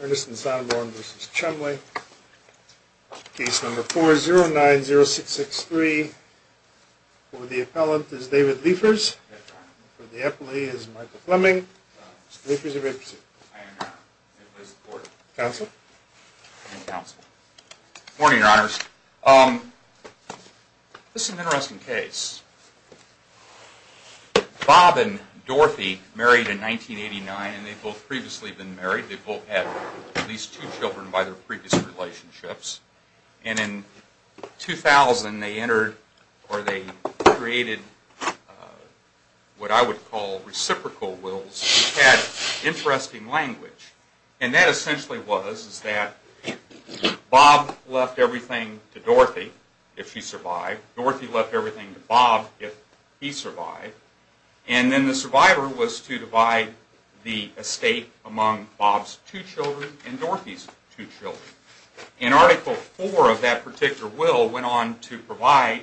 Ernest and Sondland v. Chumley. Case number 4090663. For the appellant is David Liefers. For the appellee is Michael Fleming. Mr. Liefers, you may proceed. Good morning, Your Honors. This is an interesting case. Bob and Dorothy married in 1989, and they'd both previously been married. They both had at least two children by their previous relationships. And in 2000 they entered, or they created what I would call reciprocal wills, which had interesting language. And that essentially was that Bob left everything to Dorothy if she survived. Dorothy left everything to Bob if he survived. And then the survivor was to divide the estate among Bob's two children and Dorothy's two children. And Article IV of that particular will went on to provide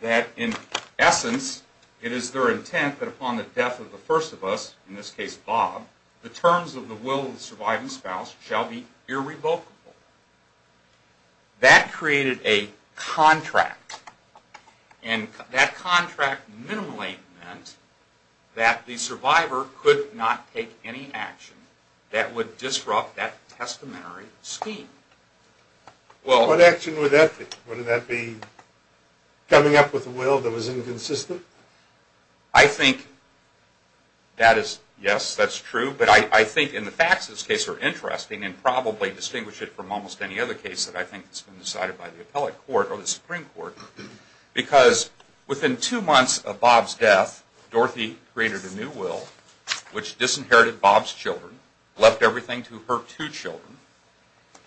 that in essence it is their intent that upon the death of the first of us, in this case Bob, the terms of the will of the surviving spouse shall be irrevocable. That created a contract. And that contract minimally meant that the survivor could not take any action that would disrupt that testamentary scheme. What action would that be? Would that be coming up with a will that was inconsistent? I think that is, yes, that's true. But I think in the facts of this case are interesting and probably distinguish it from almost any other case that I think has been decided by the appellate court or the Supreme Court. Because within two months of Bob's death, Dorothy created a new will which disinherited Bob's children, left everything to her two children.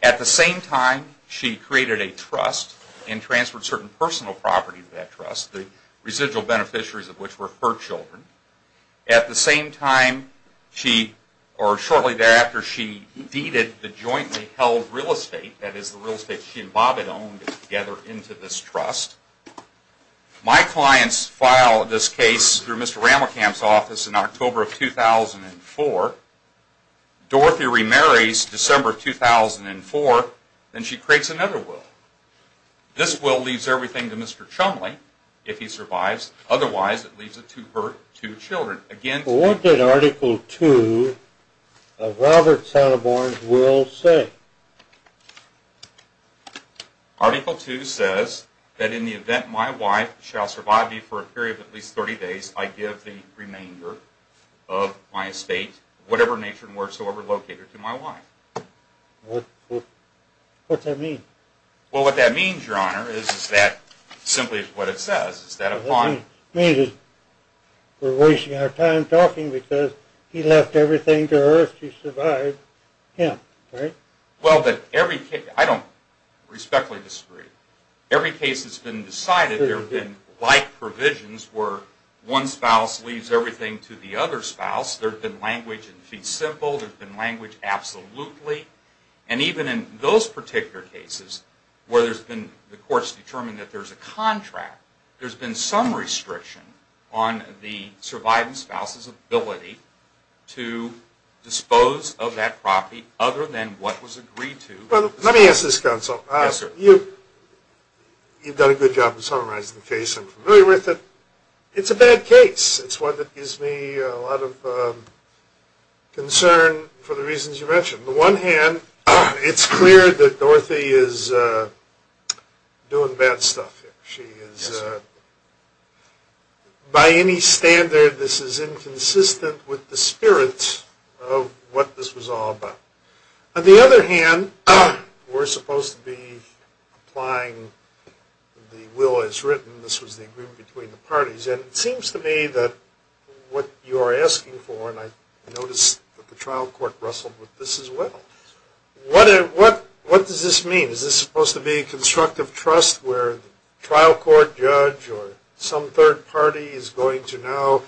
At the same time she created a trust and transferred certain personal property to that trust, the residual beneficiaries of which were her children. At the same time she, or shortly thereafter, she deeded the jointly held real estate, that is the real estate she and Bob had owned together into this trust. My clients file this case through Mr. Ramelkamp's office in October of 2004. Dorothy remarries in December of 2004 and she creates another will. This will leaves everything to Mr. Chumley, if he survives, otherwise it leaves it to her two children. Well what did article two of Robert Satterborn's will say? What does that mean? Well what that means, Your Honor, is that, simply what it says, is that upon... It means that we're wasting our time talking because he left everything to her to survive him, right? I don't respectfully disagree. Every case has been decided. There have been like provisions where one spouse leaves everything to the other spouse. There's been language in fee simple, there's been language absolutely. And even in those particular cases where there's been, the court's determined that there's a contract, there's been some restriction on the surviving spouse's ability to dispose of that property other than what was agreed to. Let me ask this counsel. You've done a good job of summarizing the case. I'm familiar with it. It's a bad case. It's one that gives me a lot of concern for the reasons you mentioned. On the one hand, it's clear that Dorothy is doing bad stuff. By any standard, this is inconsistent with the spirit of what this was all about. On the other hand, we're supposed to be applying the will as written. This was the agreement between the parties. And it seems to me that what you're asking for, and I noticed that the trial court wrestled with this as well. What does this mean? Is this supposed to be a constructive trust where the trial court judge or some third party is going to now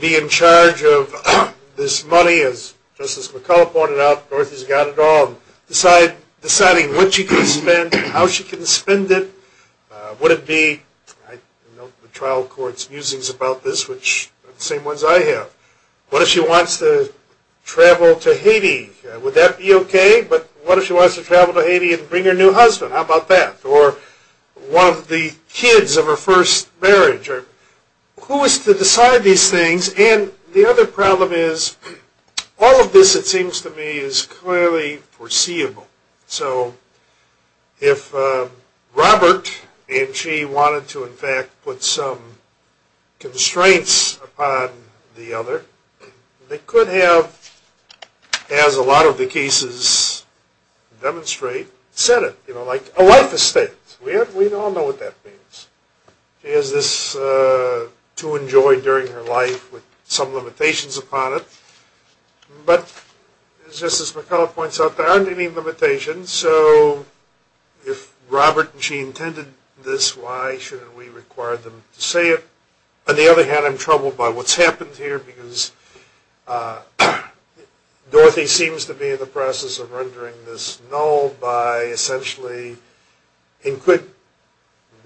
be in charge of this money? As Justice McCullough pointed out, Dorothy's got it all. Deciding what she can spend, how she can spend it. I know the trial court's musings about this, which are the same ones I have. What if she wants to travel to Haiti? Would that be okay? But what if she wants to travel to Haiti and bring her new husband? How about that? Or one of the kids of her first marriage? Who is to decide these things? And the other problem is, all of this, it seems to me, is clearly foreseeable. So if Robert and she wanted to, in fact, put some constraints upon the other, they could have, as a lot of the cases demonstrate, set it. You know, like a life estate. We all know what that means. She has this to enjoy during her life with some limitations upon it. But, as Justice McCullough points out, there aren't any limitations. So if Robert and she intended this, why shouldn't we require them to say it? On the other hand, I'm troubled by what's happened here because Dorothy seems to be in the process of rendering this null by essentially,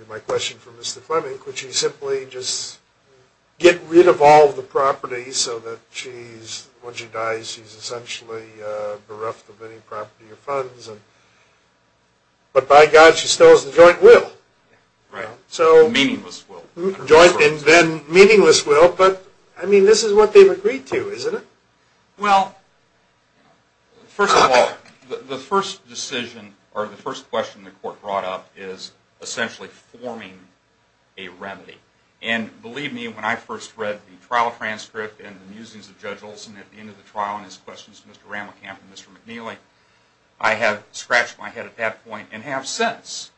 my question for Mr. Fleming, could she simply just get rid of all the property so that when she dies, she's essentially bereft of any property or funds? But by God, she still has the joint will. Right. Meaningless will. Joint and then meaningless will. But, I mean, this is what they've agreed to, isn't it? Well, first of all, the first decision, or the first question the court brought up is essentially forming a remedy. And believe me, when I first read the trial transcript and the musings of Judge Olson at the end of the trial and his questions to Mr. Ramelkamp and Mr. McNeely, I had scratched my head at that point and have since.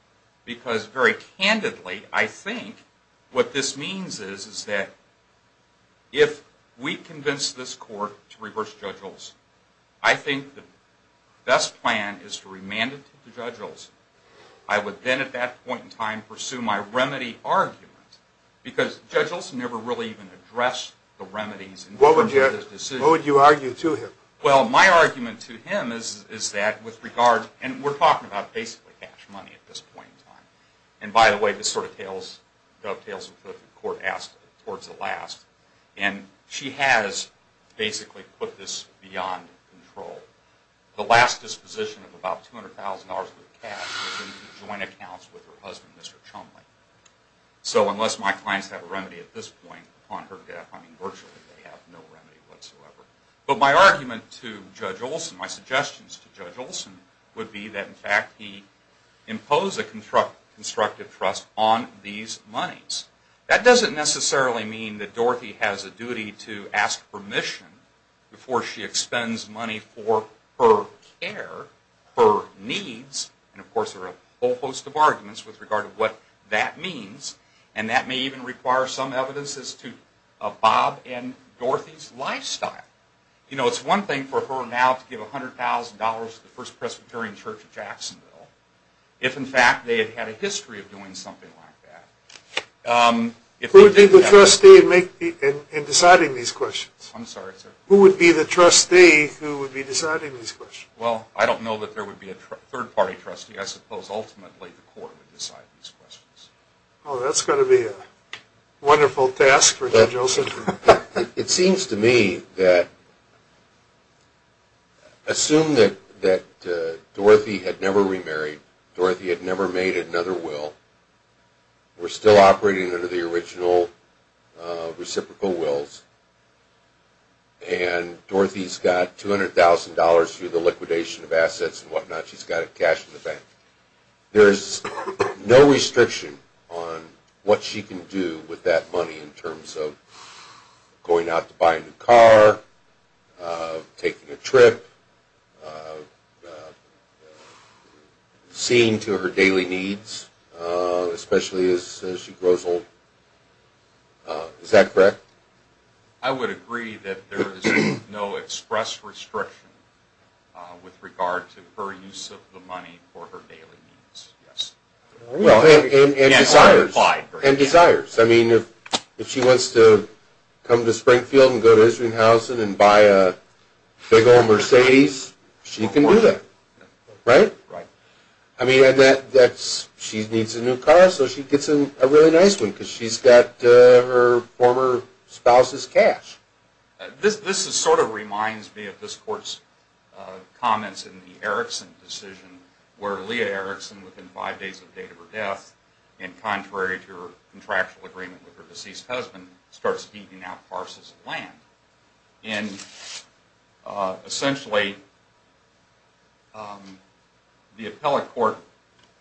Because very candidly, I think what this means is that if we convince this court to reverse Judge Olson, I think the best plan is to remand it to Judge Olson. I would then at that point in time pursue my remedy argument because Judge Olson never really even addressed the remedies in terms of this decision. What would you argue to him? Well, my argument to him is that with regard, and we're talking about basically cash money at this point in time. And by the way, this sort of dovetails with what the court asked towards the last. And she has basically put this beyond control. The last disposition of about $200,000 worth of cash was in the joint accounts with her husband, Mr. Chumley. So unless my clients have a remedy at this point upon her death, I mean, virtually they have no remedy whatsoever. But my argument to Judge Olson, my suggestions to Judge Olson would be that in fact he impose a constructive trust on these monies. That doesn't necessarily mean that Dorothy has a duty to ask permission before she expends money for her care, her needs. And of course there are a whole host of arguments with regard to what that means. And that may even require some evidence as to Bob and Dorothy's lifestyle. You know, it's one thing for her now to give $100,000 to the First Presbyterian Church of Jacksonville. If in fact they had had a history of doing something like that. Who would be the trustee in deciding these questions? I'm sorry, sir. Who would be the trustee who would be deciding these questions? Well, I don't know that there would be a third party trustee. I suppose ultimately the court would decide these questions. Oh, that's going to be a wonderful task for Judge Olson. It seems to me that assume that Dorothy had never remarried, Dorothy had never made another will, were still operating under the original reciprocal wills, and Dorothy's got $200,000 through the liquidation of assets and whatnot. She's got cash in the bank. There's no restriction on what she can do with that money in terms of going out to buy a new car, taking a trip, seeing to her daily needs, especially as she grows old. Is that correct? I would agree that there is no express restriction with regard to her use of the money for her daily needs, yes. Well, and desires. I mean, if she wants to come to Springfield and go to Israelhausen and buy a big old Mercedes, she can do that. Right? Right. I mean, she needs a new car, so she gets a really nice one because she's got her former spouse's cash. This sort of reminds me of this Court's comments in the Erickson decision, where Leah Erickson, within five days of the date of her death, and contrary to her contractual agreement with her deceased husband, starts heeding out parcels of land. And essentially, the appellate court,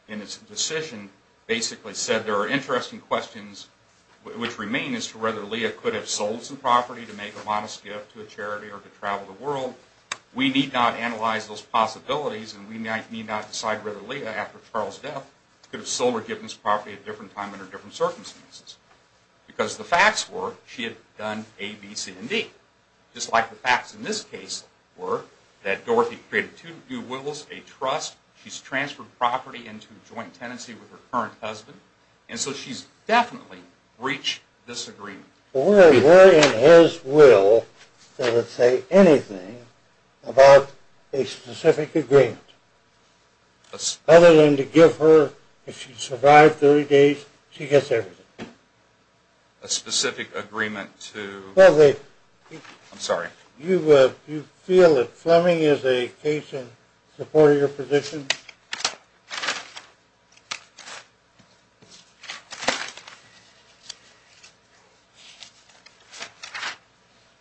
in its decision, basically said there are interesting questions which remain as to whether Leah could have sold some property to make a modest gift to a charity or to travel the world. We need not analyze those possibilities, and we need not decide whether Leah, after Charles' death, could have sold or given this property at a different time under different circumstances. Because the facts were, she had done A, B, C, and D. Just like the facts in this case were that Dorothy created two new wills, a trust, she's transferred property into joint tenancy with her current husband, and so she's definitely breached this agreement. Well, we're in his will that would say anything about a specific agreement. Other than to give her, if she survived 30 days, she gets everything. A specific agreement to... Well, they... I'm sorry. You feel that Fleming is a case in support of your position?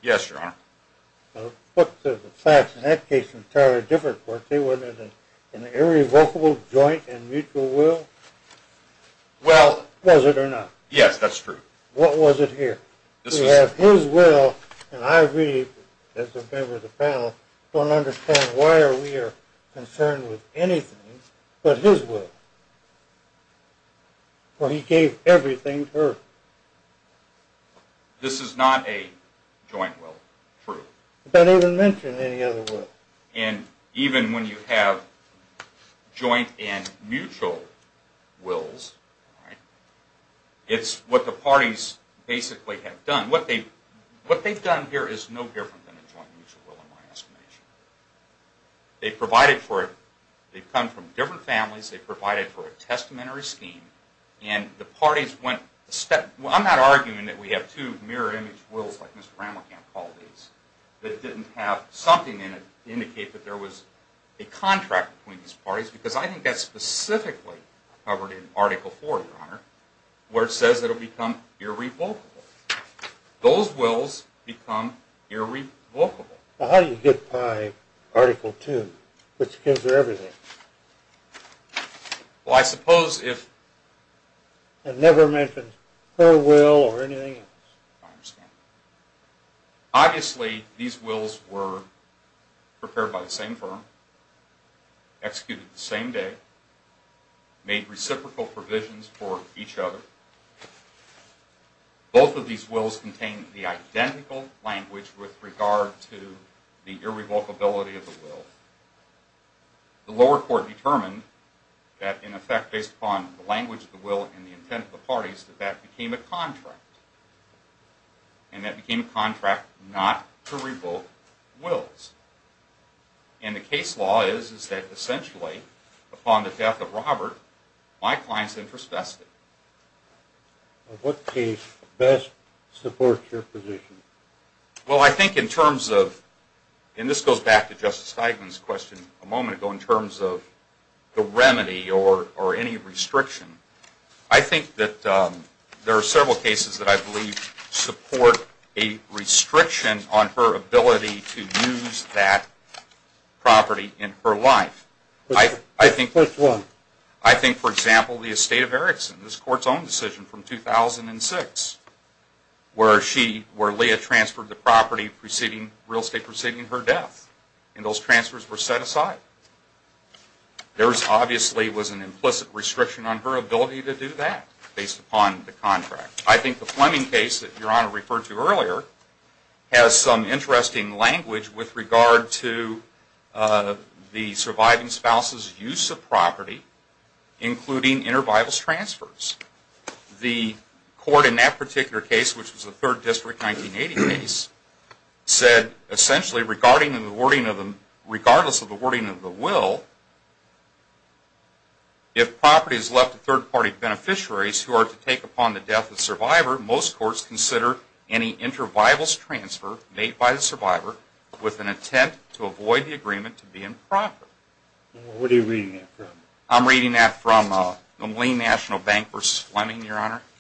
Yes, Your Honor. But the facts in that case are entirely different, weren't they? Wasn't it an irrevocable joint and mutual will? Well... Was it or not? Yes, that's true. What was it here? We have his will, and I really, as a member of the panel, don't understand why we are concerned with anything but his will. For he gave everything to her. This is not a joint will. True. It doesn't even mention any other will. And even when you have joint and mutual wills, it's what the parties basically have done. What they've done here is no different than a joint and mutual will, in my estimation. They've provided for it. They've come from different families. They've provided for a testamentary scheme, and the parties went a step... Well, I'm not arguing that we have two mirror-image wills, like Mr. Rammelkamp called these, that didn't have something in it to indicate that there was a contract between these parties, because I think that's specifically covered in Article IV, Your Honor, where it says it'll become irrevocable. Those wills become irrevocable. Well, how do you get by Article II, which gives her everything? Well, I suppose if... It never mentions her will or anything else. I understand. Obviously, these wills were prepared by the same firm, executed the same day, made reciprocal provisions for each other. Both of these wills contain the identical language with regard to the irrevocability of the will. The lower court determined that, in effect, based upon the language of the will and the intent of the parties, that that became a contract. And that became a contract not to revoke wills. And the case law is that, essentially, upon the death of Robert, my client's interest vested. What case best supports your position? Well, I think in terms of... And this goes back to Justice Steigman's question a moment ago, in terms of the remedy or any restriction. I think that there are several cases that I believe support a restriction on her ability to use that property in her life. Which one? I think, for example, the estate of Erickson, this Court's own decision from 2006, where Leah transferred the property, real estate, preceding her death. And those transfers were set aside. There obviously was an implicit restriction on her ability to do that, based upon the contract. I think the Fleming case that Your Honor referred to earlier has some interesting language with regard to the surviving spouse's use of property, including intervivals transfers. The Court in that particular case, which was the 3rd District 1980 case, said, essentially, regardless of the wording of the will, if property is left to third-party beneficiaries who are to take upon the death of a survivor, most courts consider any intervivals transfer made by the survivor with an attempt to avoid the agreement to be improper. What are you reading that from? I'm reading that from the Moline National Bank v. Fleming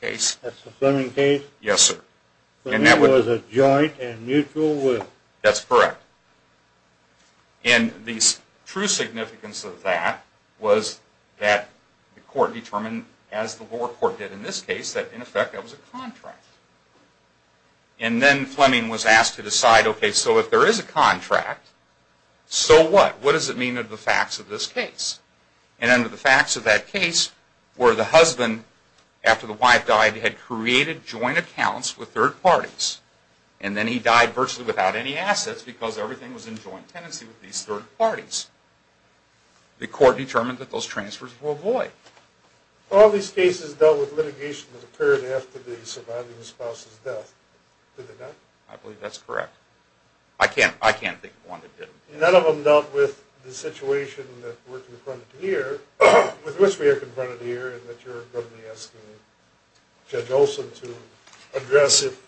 case. That's the Fleming case? Yes, sir. And that was a joint and mutual will? That's correct. And the true significance of that was that the Court determined, as the lower court did in this case, that, in effect, that was a contract. And then Fleming was asked to decide, okay, so if there is a contract, so what? What does it mean under the facts of this case? And under the facts of that case were the husband, after the wife died, had created joint accounts with third parties, and then he died virtually without any assets because everything was in joint tenancy with these third parties. The Court determined that those transfers were void. All these cases dealt with litigation that occurred after the surviving spouse's death, did they not? I believe that's correct. I can't think of one that didn't. None of them dealt with the situation that we're confronted here, with which we are confronted here, and that you're probably asking Judge Olson to address if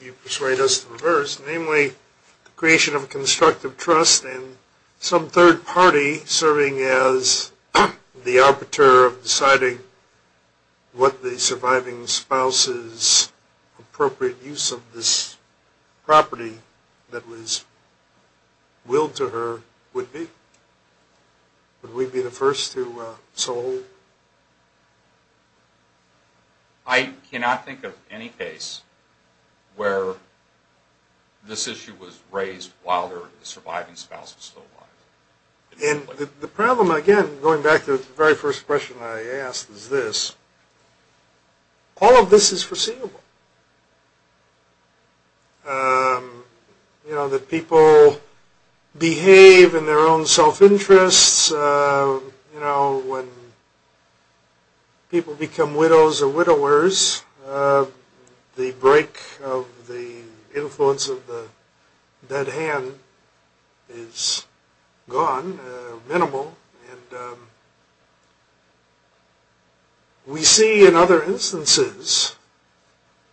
you persuade us to reverse, namely the creation of a constructive trust and some third party serving as the arbiter of deciding what the surviving spouse's appropriate use of this property that was willed to her would be. Would we be the first to so hold? I cannot think of any case where this issue was raised while the surviving spouse was still alive. And the problem, again, going back to the very first question I asked, is this. All of this is foreseeable. You know, that people behave in their own self-interests. You know, when people become widows or widowers, the break of the influence of the dead hand is gone, minimal. And we see in other instances,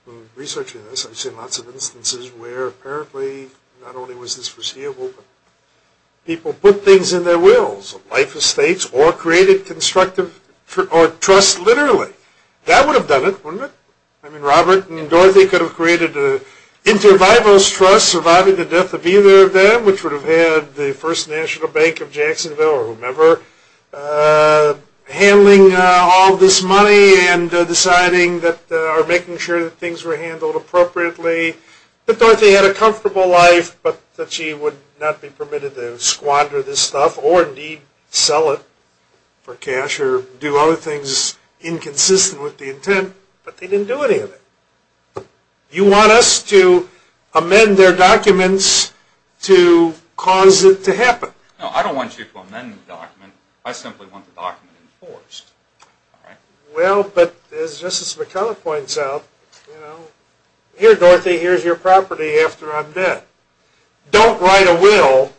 in researching this, I've seen lots of instances where apparently not only was this foreseeable, but people put things in their wills. Life estates or created constructive trust, literally. That would have done it, wouldn't it? I mean, Robert and Dorothy could have created an intervivalist trust, surviving the death of either of them, which would have had the First National Bank of Jacksonville, or whomever, handling all this money and deciding that, or making sure that things were handled appropriately. But Dorothy had a comfortable life, but that she would not be permitted to squander this stuff, or indeed sell it for cash, or do other things inconsistent with the intent. But they didn't do any of it. You want us to amend their documents to cause it to happen? No, I don't want you to amend the document. I simply want the document enforced. Well, but as Justice McCullough points out, here, Dorothy, here's your property after I'm dead. Don't write a will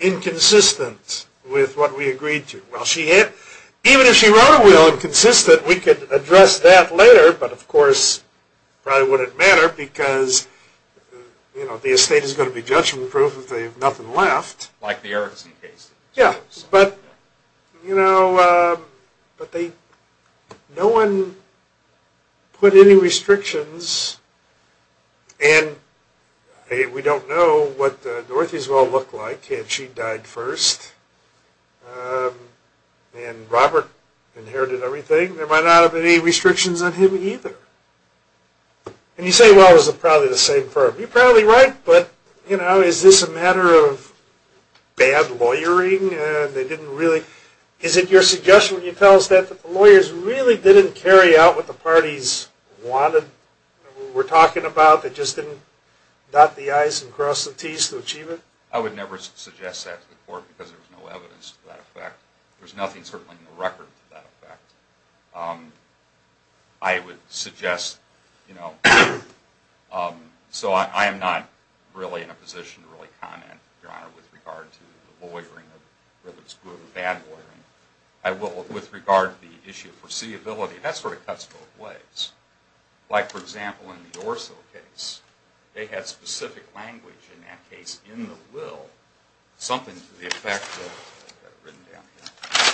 inconsistent with what we agreed to. Even if she wrote a will inconsistent, we could address that later, but of course, it probably wouldn't matter, because the estate is going to be judgment-proof if they have nothing left. Like the Erickson case. Yeah, but no one put any restrictions, and we don't know what Dorothy's will looked like had she died first, and Robert inherited everything. There might not have been any restrictions on him either. And you say, well, it was probably the same firm. You're probably right, but is this a matter of bad lawyering? Is it your suggestion when you tell us that, that the lawyers really didn't carry out what the parties wanted, were talking about, they just didn't dot the I's and cross the T's to achieve it? I would never suggest that to the court, because there was no evidence to that effect. There's nothing, certainly, in the record to that effect. I would suggest, you know, so I am not really in a position to really comment, Your Honor, with regard to the lawyering or whether it's good or bad lawyering. With regard to the issue of foreseeability, that sort of cuts both ways. Like, for example, in the Orso case, they had specific language in that case in the will, something to the effect of, I've got it written down here.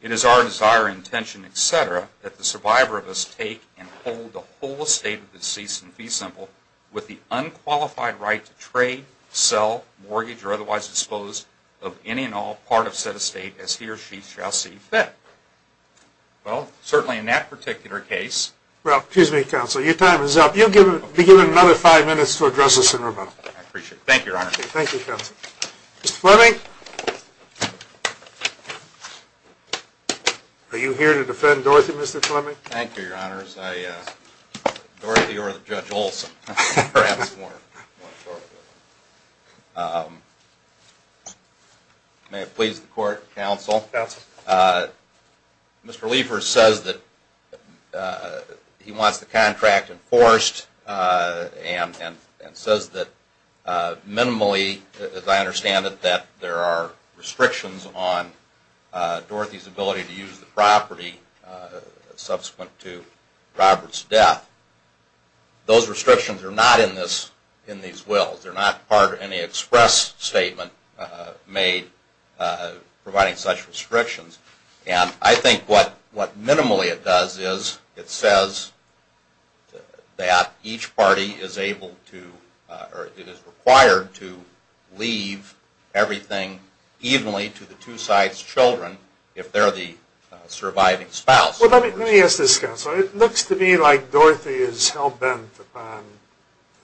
It is our desire, intention, et cetera, that the survivor of this take and hold the whole estate of the deceased in fee simple with the unqualified right to trade, sell, mortgage, or otherwise dispose of any and all part of said estate as he or she shall see fit. Well, certainly in that particular case. Well, excuse me, Counselor, your time is up. You'll be given another five minutes to address this in rebuttal. I appreciate it. Thank you, Your Honor. Thank you, Counselor. Mr. Fleming? Are you here to defend Dorothy, Mr. Fleming? Thank you, Your Honors. Dorothy or Judge Olson, perhaps more shortly. May it please the Court, Counsel. Counsel. Mr. Liefers says that he wants the contract enforced and says that minimally, as I understand it, that there are restrictions on Dorothy's ability to use the property subsequent to Robert's death. Those restrictions are not in these wills. They're not part of any express statement made providing such restrictions. And I think what minimally it does is it says that each party is able to or it is required to leave everything evenly to the two sides' children if they're the surviving spouse. Well, let me ask this, Counsel. It looks to me like Dorothy is hell-bent upon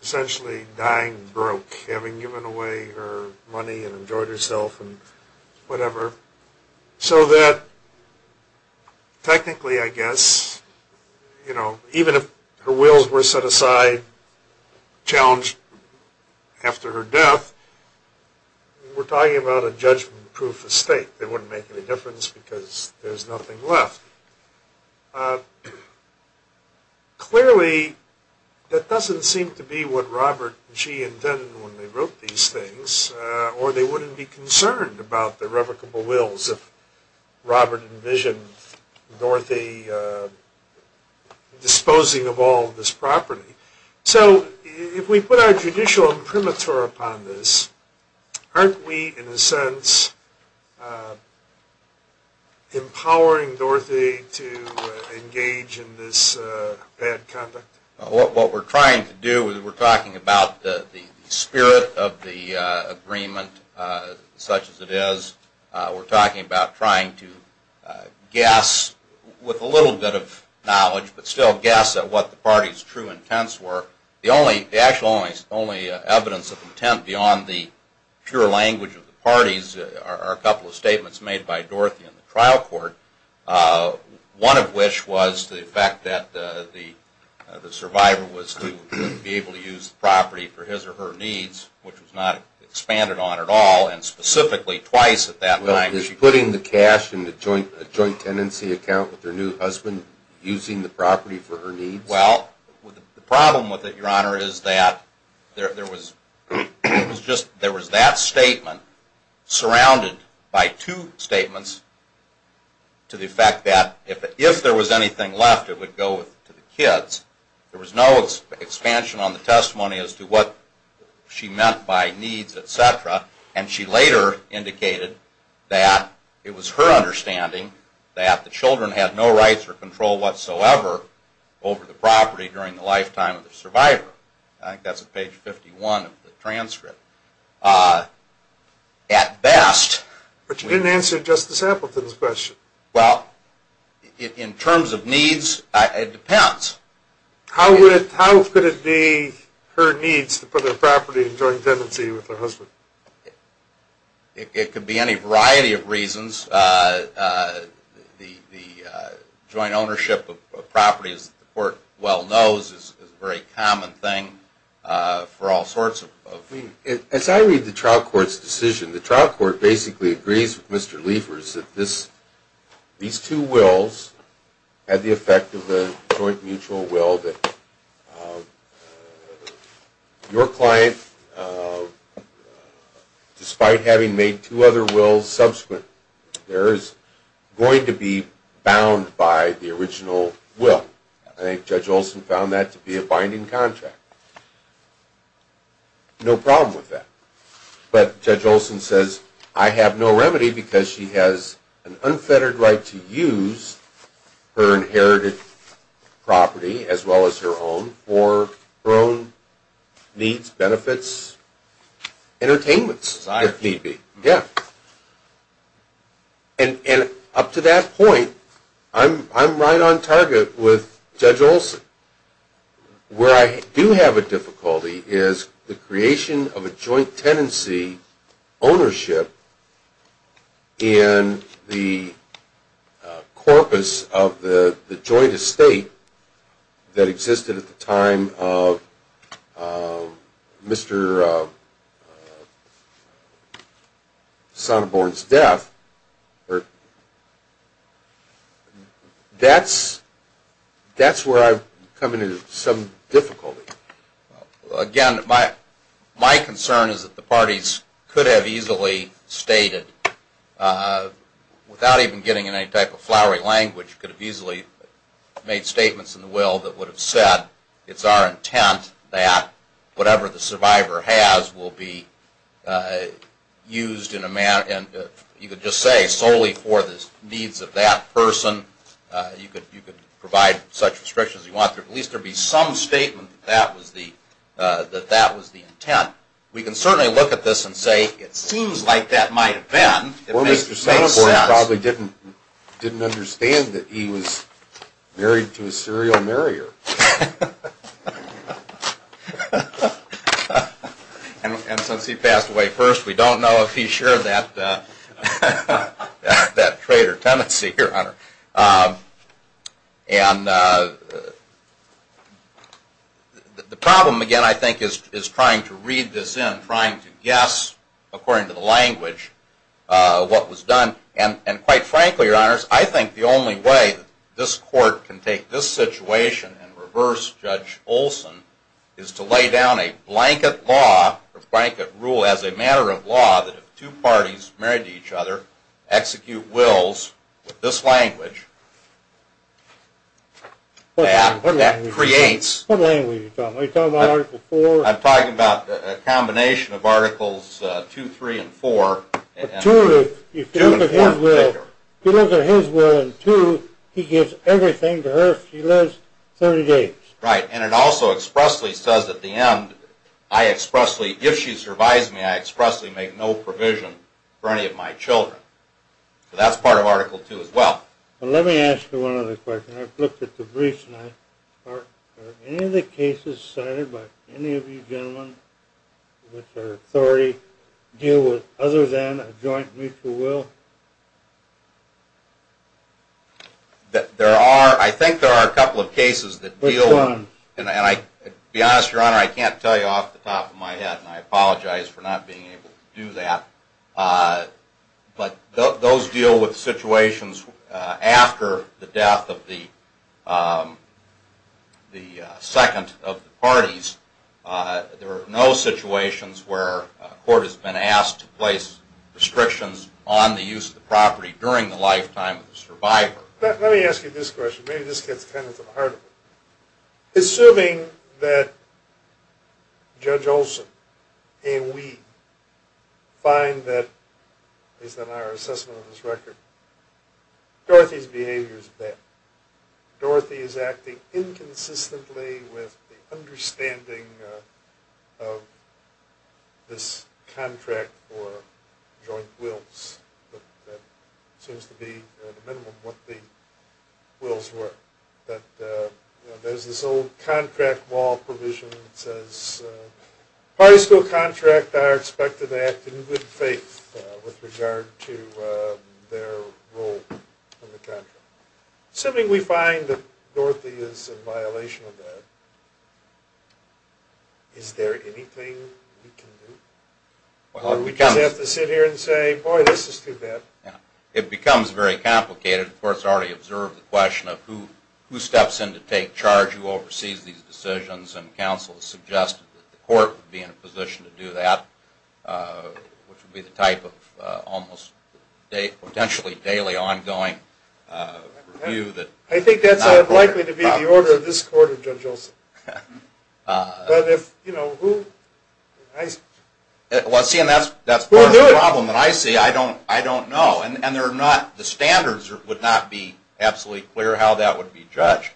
essentially dying broke, having given away her money and enjoyed herself and whatever, so that technically, I guess, you know, even if her wills were set aside, challenged after her death, we're talking about a judgment-proof estate. They wouldn't make any difference because there's nothing left. Clearly, that doesn't seem to be what Robert and she intended when they wrote these things, or they wouldn't be concerned about the irrevocable wills if Robert envisioned Dorothy disposing of all of this property. So if we put our judicial imprimatur upon this, aren't we in a sense empowering Dorothy to engage in this bad conduct? What we're trying to do is we're talking about the spirit of the agreement such as it is. We're talking about trying to guess with a little bit of knowledge but still guess at what the party's true intents were. The only evidence of intent beyond the pure language of the parties are a couple of statements made by Dorothy in the trial court, one of which was the fact that the survivor was to be able to use the property for his or her needs, which was not expanded on at all, and specifically twice at that time. Is she putting the cash in a joint tenancy account with her new husband, using the property for her needs? Well, the problem with it, Your Honor, is that there was that statement surrounded by two statements to the effect that if there was anything left, it would go to the kids. There was no expansion on the testimony as to what she meant by needs, etc., and she later indicated that it was her understanding that the children had no rights or control whatsoever over the property during the lifetime of the survivor. I think that's at page 51 of the transcript. At best... But you didn't answer Justice Appleton's question. Well, in terms of needs, it depends. How could it be her needs to put her property in joint tenancy with her husband? It could be any variety of reasons. The joint ownership of properties, the court well knows, is a very common thing for all sorts of reasons. As I read the trial court's decision, the trial court basically agrees with Mr. Liefers that these two wills had the effect of a joint mutual will that your client, despite having made two other wills subsequent, there is going to be bound by the original will. I think Judge Olson found that to be a binding contract. No problem with that. But Judge Olson says, I have no remedy because she has an unfettered right to use her inherited property as well as her own for her own needs, benefits, entertainments, if need be. And up to that point, I'm right on target with Judge Olson. Where I do have a difficulty is the creation of a joint tenancy ownership in the corpus of the joint estate that existed at the time of Mr. Sonneborn's death. That's where I've come into some difficulty. Again, my concern is that the parties could have easily stated, without even getting into any type of flowery language, could have easily made statements in the will that would have said, it's our intent that whatever the survivor has will be used solely for the needs of that person. You could provide such restrictions as you want. At least there would be some statement that that was the intent. We can certainly look at this and say, it seems like that might have been. Or Mr. Sonneborn probably didn't understand that he was married to a serial marrier. And since he passed away first, we don't know if he shared that trade or tenancy. The problem, again, I think, is trying to read this in, trying to guess, according to the language, what was done. And quite frankly, your honors, I think the only way this court can take this situation and reverse Judge Olson is to lay down a blanket rule as a matter of law that if two parties married to each other execute wills with this language, that creates... What language are you talking about? Are you talking about Article 4? I'm talking about a combination of Articles 2, 3, and 4. But 2, if you look at his will in 2, he gives everything to her if she lives 30 days. Right. And it also expressly says at the end, I expressly, if she survives me, I expressly make no provision for any of my children. So that's part of Article 2 as well. Well, let me ask you one other question. I've looked at the briefs, and are any of the cases cited by any of you gentlemen with authority deal with other than a joint mutual will? There are. I think there are a couple of cases that deal with... Which ones? To be honest, Your Honor, I can't tell you off the top of my head, and I apologize for not being able to do that. But those deal with situations after the death of the second of the parties. There are no situations where a court has been asked to place restrictions on the use of the property during the lifetime of the survivor. Let me ask you this question. Maybe this gets kind of to the heart of it. Assuming that Judge Olson and we find that, based on our assessment of this record, Dorothy's behavior is bad. Dorothy is acting inconsistently with the understanding of this contract for joint wills. But that seems to be, at a minimum, what the wills were. There's this old contract law provision that says, parties to a contract are expected to act in good faith with regard to their role in the contract. Assuming we find that Dorothy is in violation of that, is there anything we can do? Or do we just have to sit here and say, boy, this is too bad. It becomes very complicated. The court has already observed the question of who steps in to take charge, who oversees these decisions, and counsel has suggested that the court would be in a position to do that, which would be the type of potentially daily, ongoing review. I think that's likely to be the order of this Court of Judge Olson. But if, you know, who? Well, see, and that's part of the problem that I see. I don't know. And the standards would not be absolutely clear how that would be judged.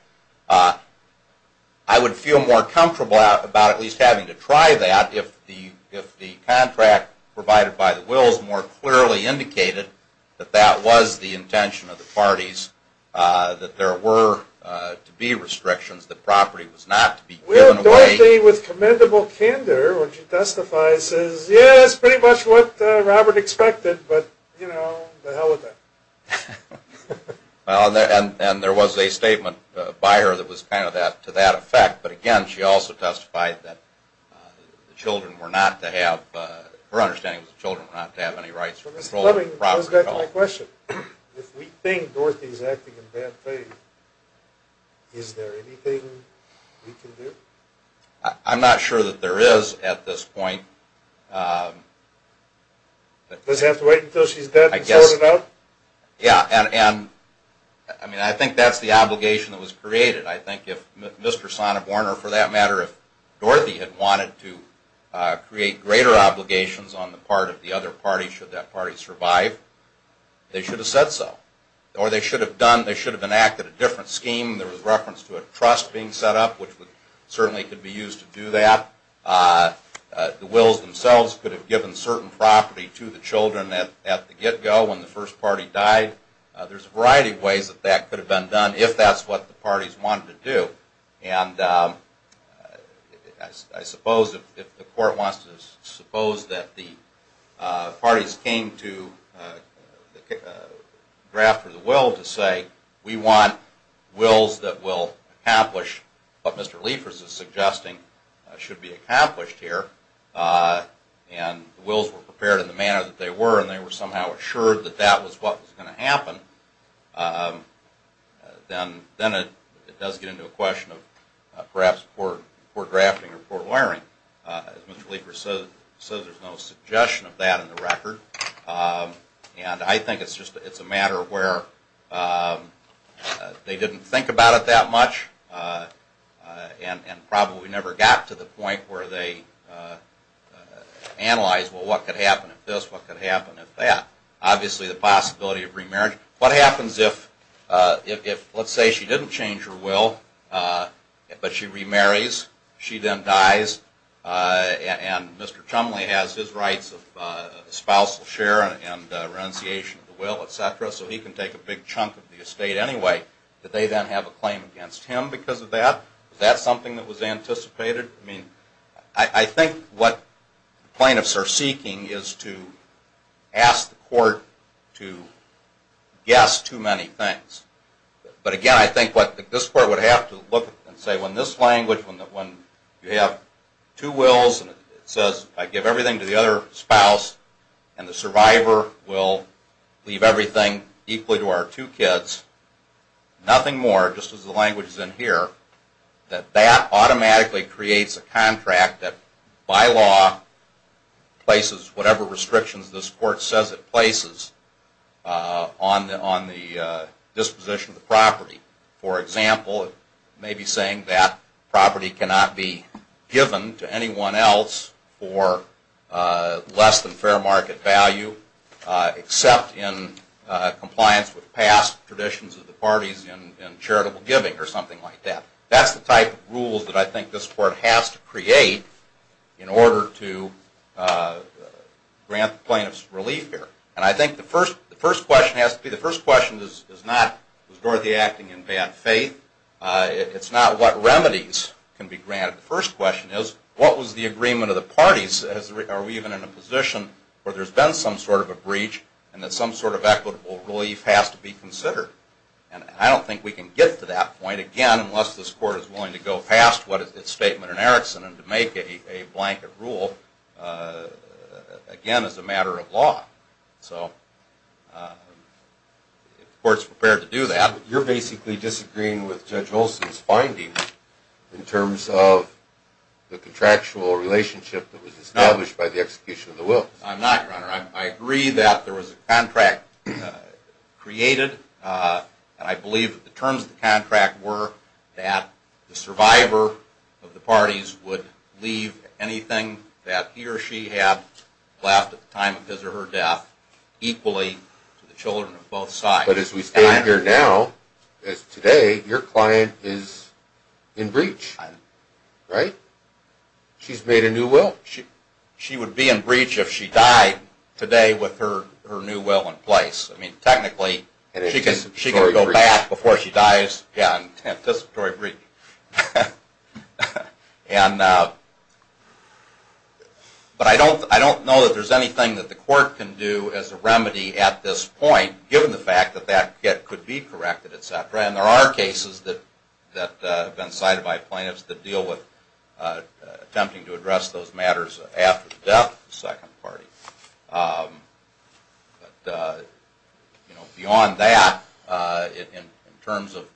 I would feel more comfortable about at least having to try that if the contract provided by the wills more clearly indicated that that was the intention of the parties, that there were to be restrictions, that property was not to be given away. Well, Dorothy, with commendable candor, when she testifies, says, yeah, that's pretty much what Robert expected, but, you know, the hell with that. And there was a statement by her that was kind of to that effect. But, again, she also testified that the children were not to have, her understanding was the children were not to have any rights for controlling the property. Well, Mr. Fleming, it goes back to my question. If we think Dorothy is acting in bad faith, is there anything we can do? I'm not sure that there is at this point. Does it have to wait until she's dead to sort it out? Yeah. And, I mean, I think that's the obligation that was created. I think if Mr. Sonneborn or, for that matter, if Dorothy had wanted to create greater obligations on the part of the other party should that party survive, they should have said so. Or they should have enacted a different scheme. There was reference to a trust being set up, which certainly could be used to do that. The Wills themselves could have given certain property to the children at the get-go when the first party died. There's a variety of ways that that could have been done if that's what the parties wanted to do. And I suppose if the court wants to suppose that the parties came to draft for the Will to say, we want Wills that will accomplish what Mr. Liefers is suggesting should be accomplished here, and the Wills were prepared in the manner that they were, and they were somehow assured that that was what was going to happen, then it does get into a question of perhaps poor drafting or poor lawyering. As Mr. Liefers says, there's no suggestion of that in the record. And I think it's just a matter of where they didn't think about it that much and probably never got to the point where they analyzed, well, what could happen if this, what could happen if that. Obviously the possibility of remarriage. What happens if, let's say she didn't change her Will, but she remarries, she then dies, and Mr. Chumley has his rights of spousal share and renunciation of the Will, etc., so he can take a big chunk of the estate anyway. Did they then have a claim against him because of that? Was that something that was anticipated? I think what plaintiffs are seeking is to ask the court to guess too many things. But again, I think this court would have to look and say when this language, when you have two Wills and it says I give everything to the other spouse and the survivor will leave everything equally to our two kids, nothing more, just as the language is in here, that that automatically creates a contract that by law places whatever restrictions this court says it places on the disposition of the property. For example, it may be saying that property cannot be given to anyone else for less than fair market value except in compliance with past traditions of the parties in charitable giving or something like that. That's the type of rules that I think this court has to create in order to grant plaintiffs relief here. And I think the first question has to be, the first question is not, was Dorothy acting in bad faith? It's not what remedies can be granted. The first question is, what was the agreement of the parties? Are we even in a position where there's been some sort of a breach and that some sort of equitable relief has to be considered? And I don't think we can get to that point, again, unless this court is willing to go past what is its statement in Erickson and to make a blanket rule, again, as a matter of law. So the court's prepared to do that. Your Honor, you're basically disagreeing with Judge Olson's findings in terms of the contractual relationship that was established by the execution of the wills. I'm not, Your Honor. I agree that there was a contract created, and I believe that the terms of the contract were that the survivor of the parties would leave anything that he or she had left at the time of his or her death equally to the children of both sides. But as we stand here now, as today, your client is in breach, right? She's made a new will. She would be in breach if she died today with her new will in place. I mean, technically, she can go back before she dies. Yeah, anticipatory breach. But I don't know that there's anything that the court can do as a remedy at this point given the fact that that could be corrected, et cetera. And there are cases that have been cited by plaintiffs that deal with attempting to address those matters after the death of the second party. Beyond that, in terms of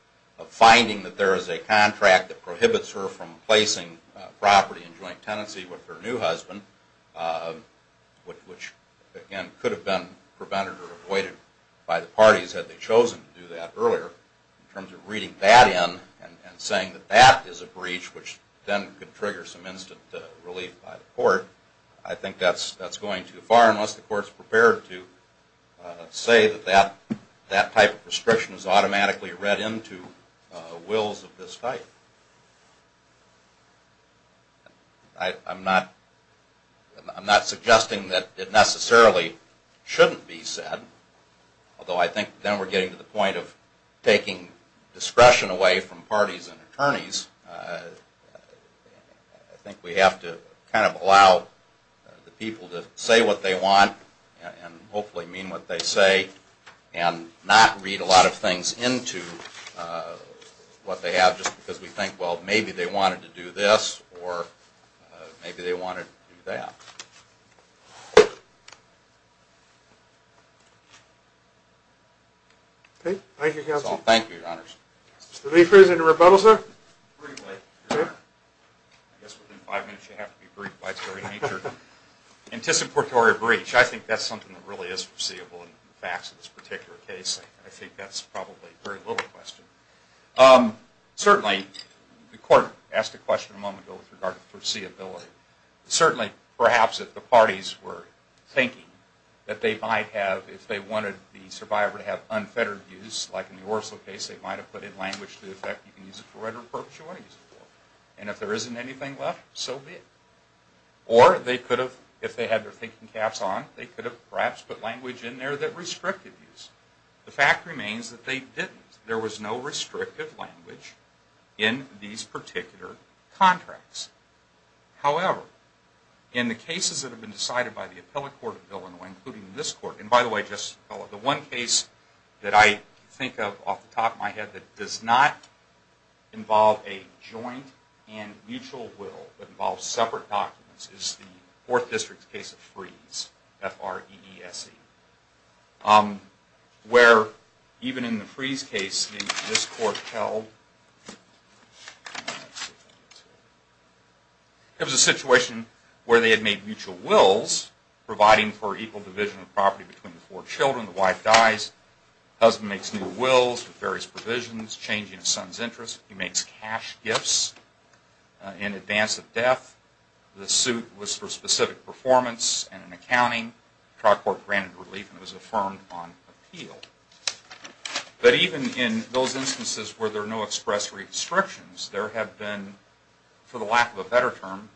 finding that there is a contract that prohibits her from placing property in joint tenancy with her new husband, which, again, could have been prevented or avoided by the parties had they chosen to do that earlier. In terms of reading that in and saying that that is a breach, which then could trigger some instant relief by the court, I think that's going too far unless the court's prepared to say that that type of restriction is automatically read into wills of this type. I'm not suggesting that it necessarily shouldn't be said, although I think then we're getting to the point of taking discretion away from parties and attorneys. I think we have to kind of allow the people to say what they want and hopefully mean what they say and not read a lot of things into what they have just because we think, well, maybe they wanted to do this or maybe they wanted to do that. Okay. Thank you, counsel. That's all. Thank you, your honors. Is there any further rebuttal, sir? Briefly. Okay. I guess within five minutes you have to be brief by its very nature. Anticipatory breach, I think that's something that really is foreseeable in the facts of this particular case. I think that's probably a very little question. Certainly, the court asked a question a moment ago with regard to foreseeability. Certainly, perhaps if the parties were thinking that they might have, if they wanted the survivor to have unfettered views, like in the Orso case, they might have put in language to the effect you can use it for whatever purpose you want to use it for. And if there isn't anything left, so be it. Or they could have, if they had their thinking caps on, they could have perhaps put language in there that restricted views. The fact remains that they didn't. There was no restrictive language in these particular contracts. However, in the cases that have been decided by the appellate court of Illinois, including this court, and by the way, Justice Appellate, the one case that I think of off the top of my head that does not involve a joint and mutual will, but involves separate documents, is the Fourth District's case of Freese, F-R-E-E-S-E, where even in the Freese case, this court held it was a situation where they had made mutual wills providing for equal division of property between the four children. The wife dies. The husband makes new wills with various provisions, changing his son's interests. He makes cash gifts in advance of death. The suit was for specific performance and an accounting. The trial court granted relief and it was affirmed on appeal. But even in those instances where there are no express restrictions, there have been, for the lack of a better term,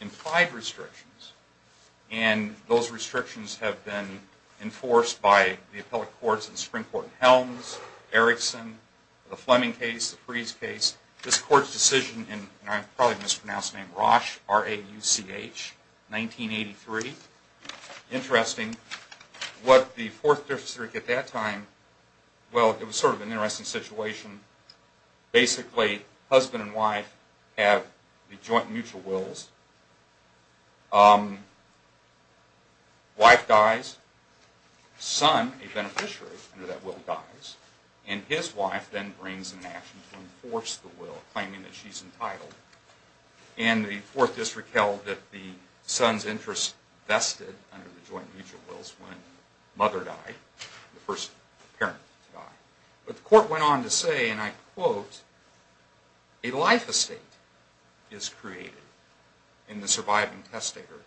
implied restrictions. And those restrictions have been enforced by the appellate courts in the Supreme Court in Helms, Erickson, the Fleming case, the Freese case. This court's decision, and I've probably mispronounced the name, Rauch, R-A-U-C-H, 1983. Interesting. What the Fourth District at that time, well, it was sort of an interesting situation. Basically, husband and wife have the joint and mutual wills. Wife dies. Son, a beneficiary under that will, dies. And his wife then brings an action to enforce the will, claiming that she's entitled. And the Fourth District held that the son's interest vested under the joint and mutual wills when mother died, the first parent to die. But the court went on to say, and I quote, a life estate is created in the surviving test taker,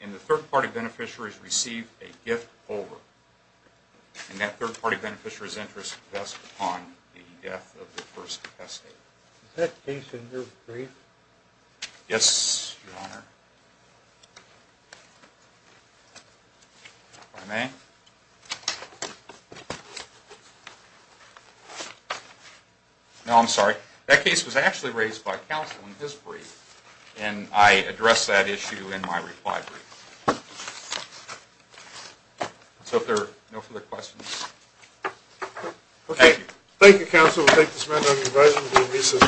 and the third party beneficiary is received a gift over. And that third party beneficiary's interest is vested upon the death of the first test taker. Is that case in your brief? Yes, Your Honor. If I may. No, I'm sorry. That case was actually raised by counsel in his brief, and I address that issue in my reply brief. So if there are no further questions. Okay. Thank you, counsel. We'll take this matter under advisable recess for a few minutes.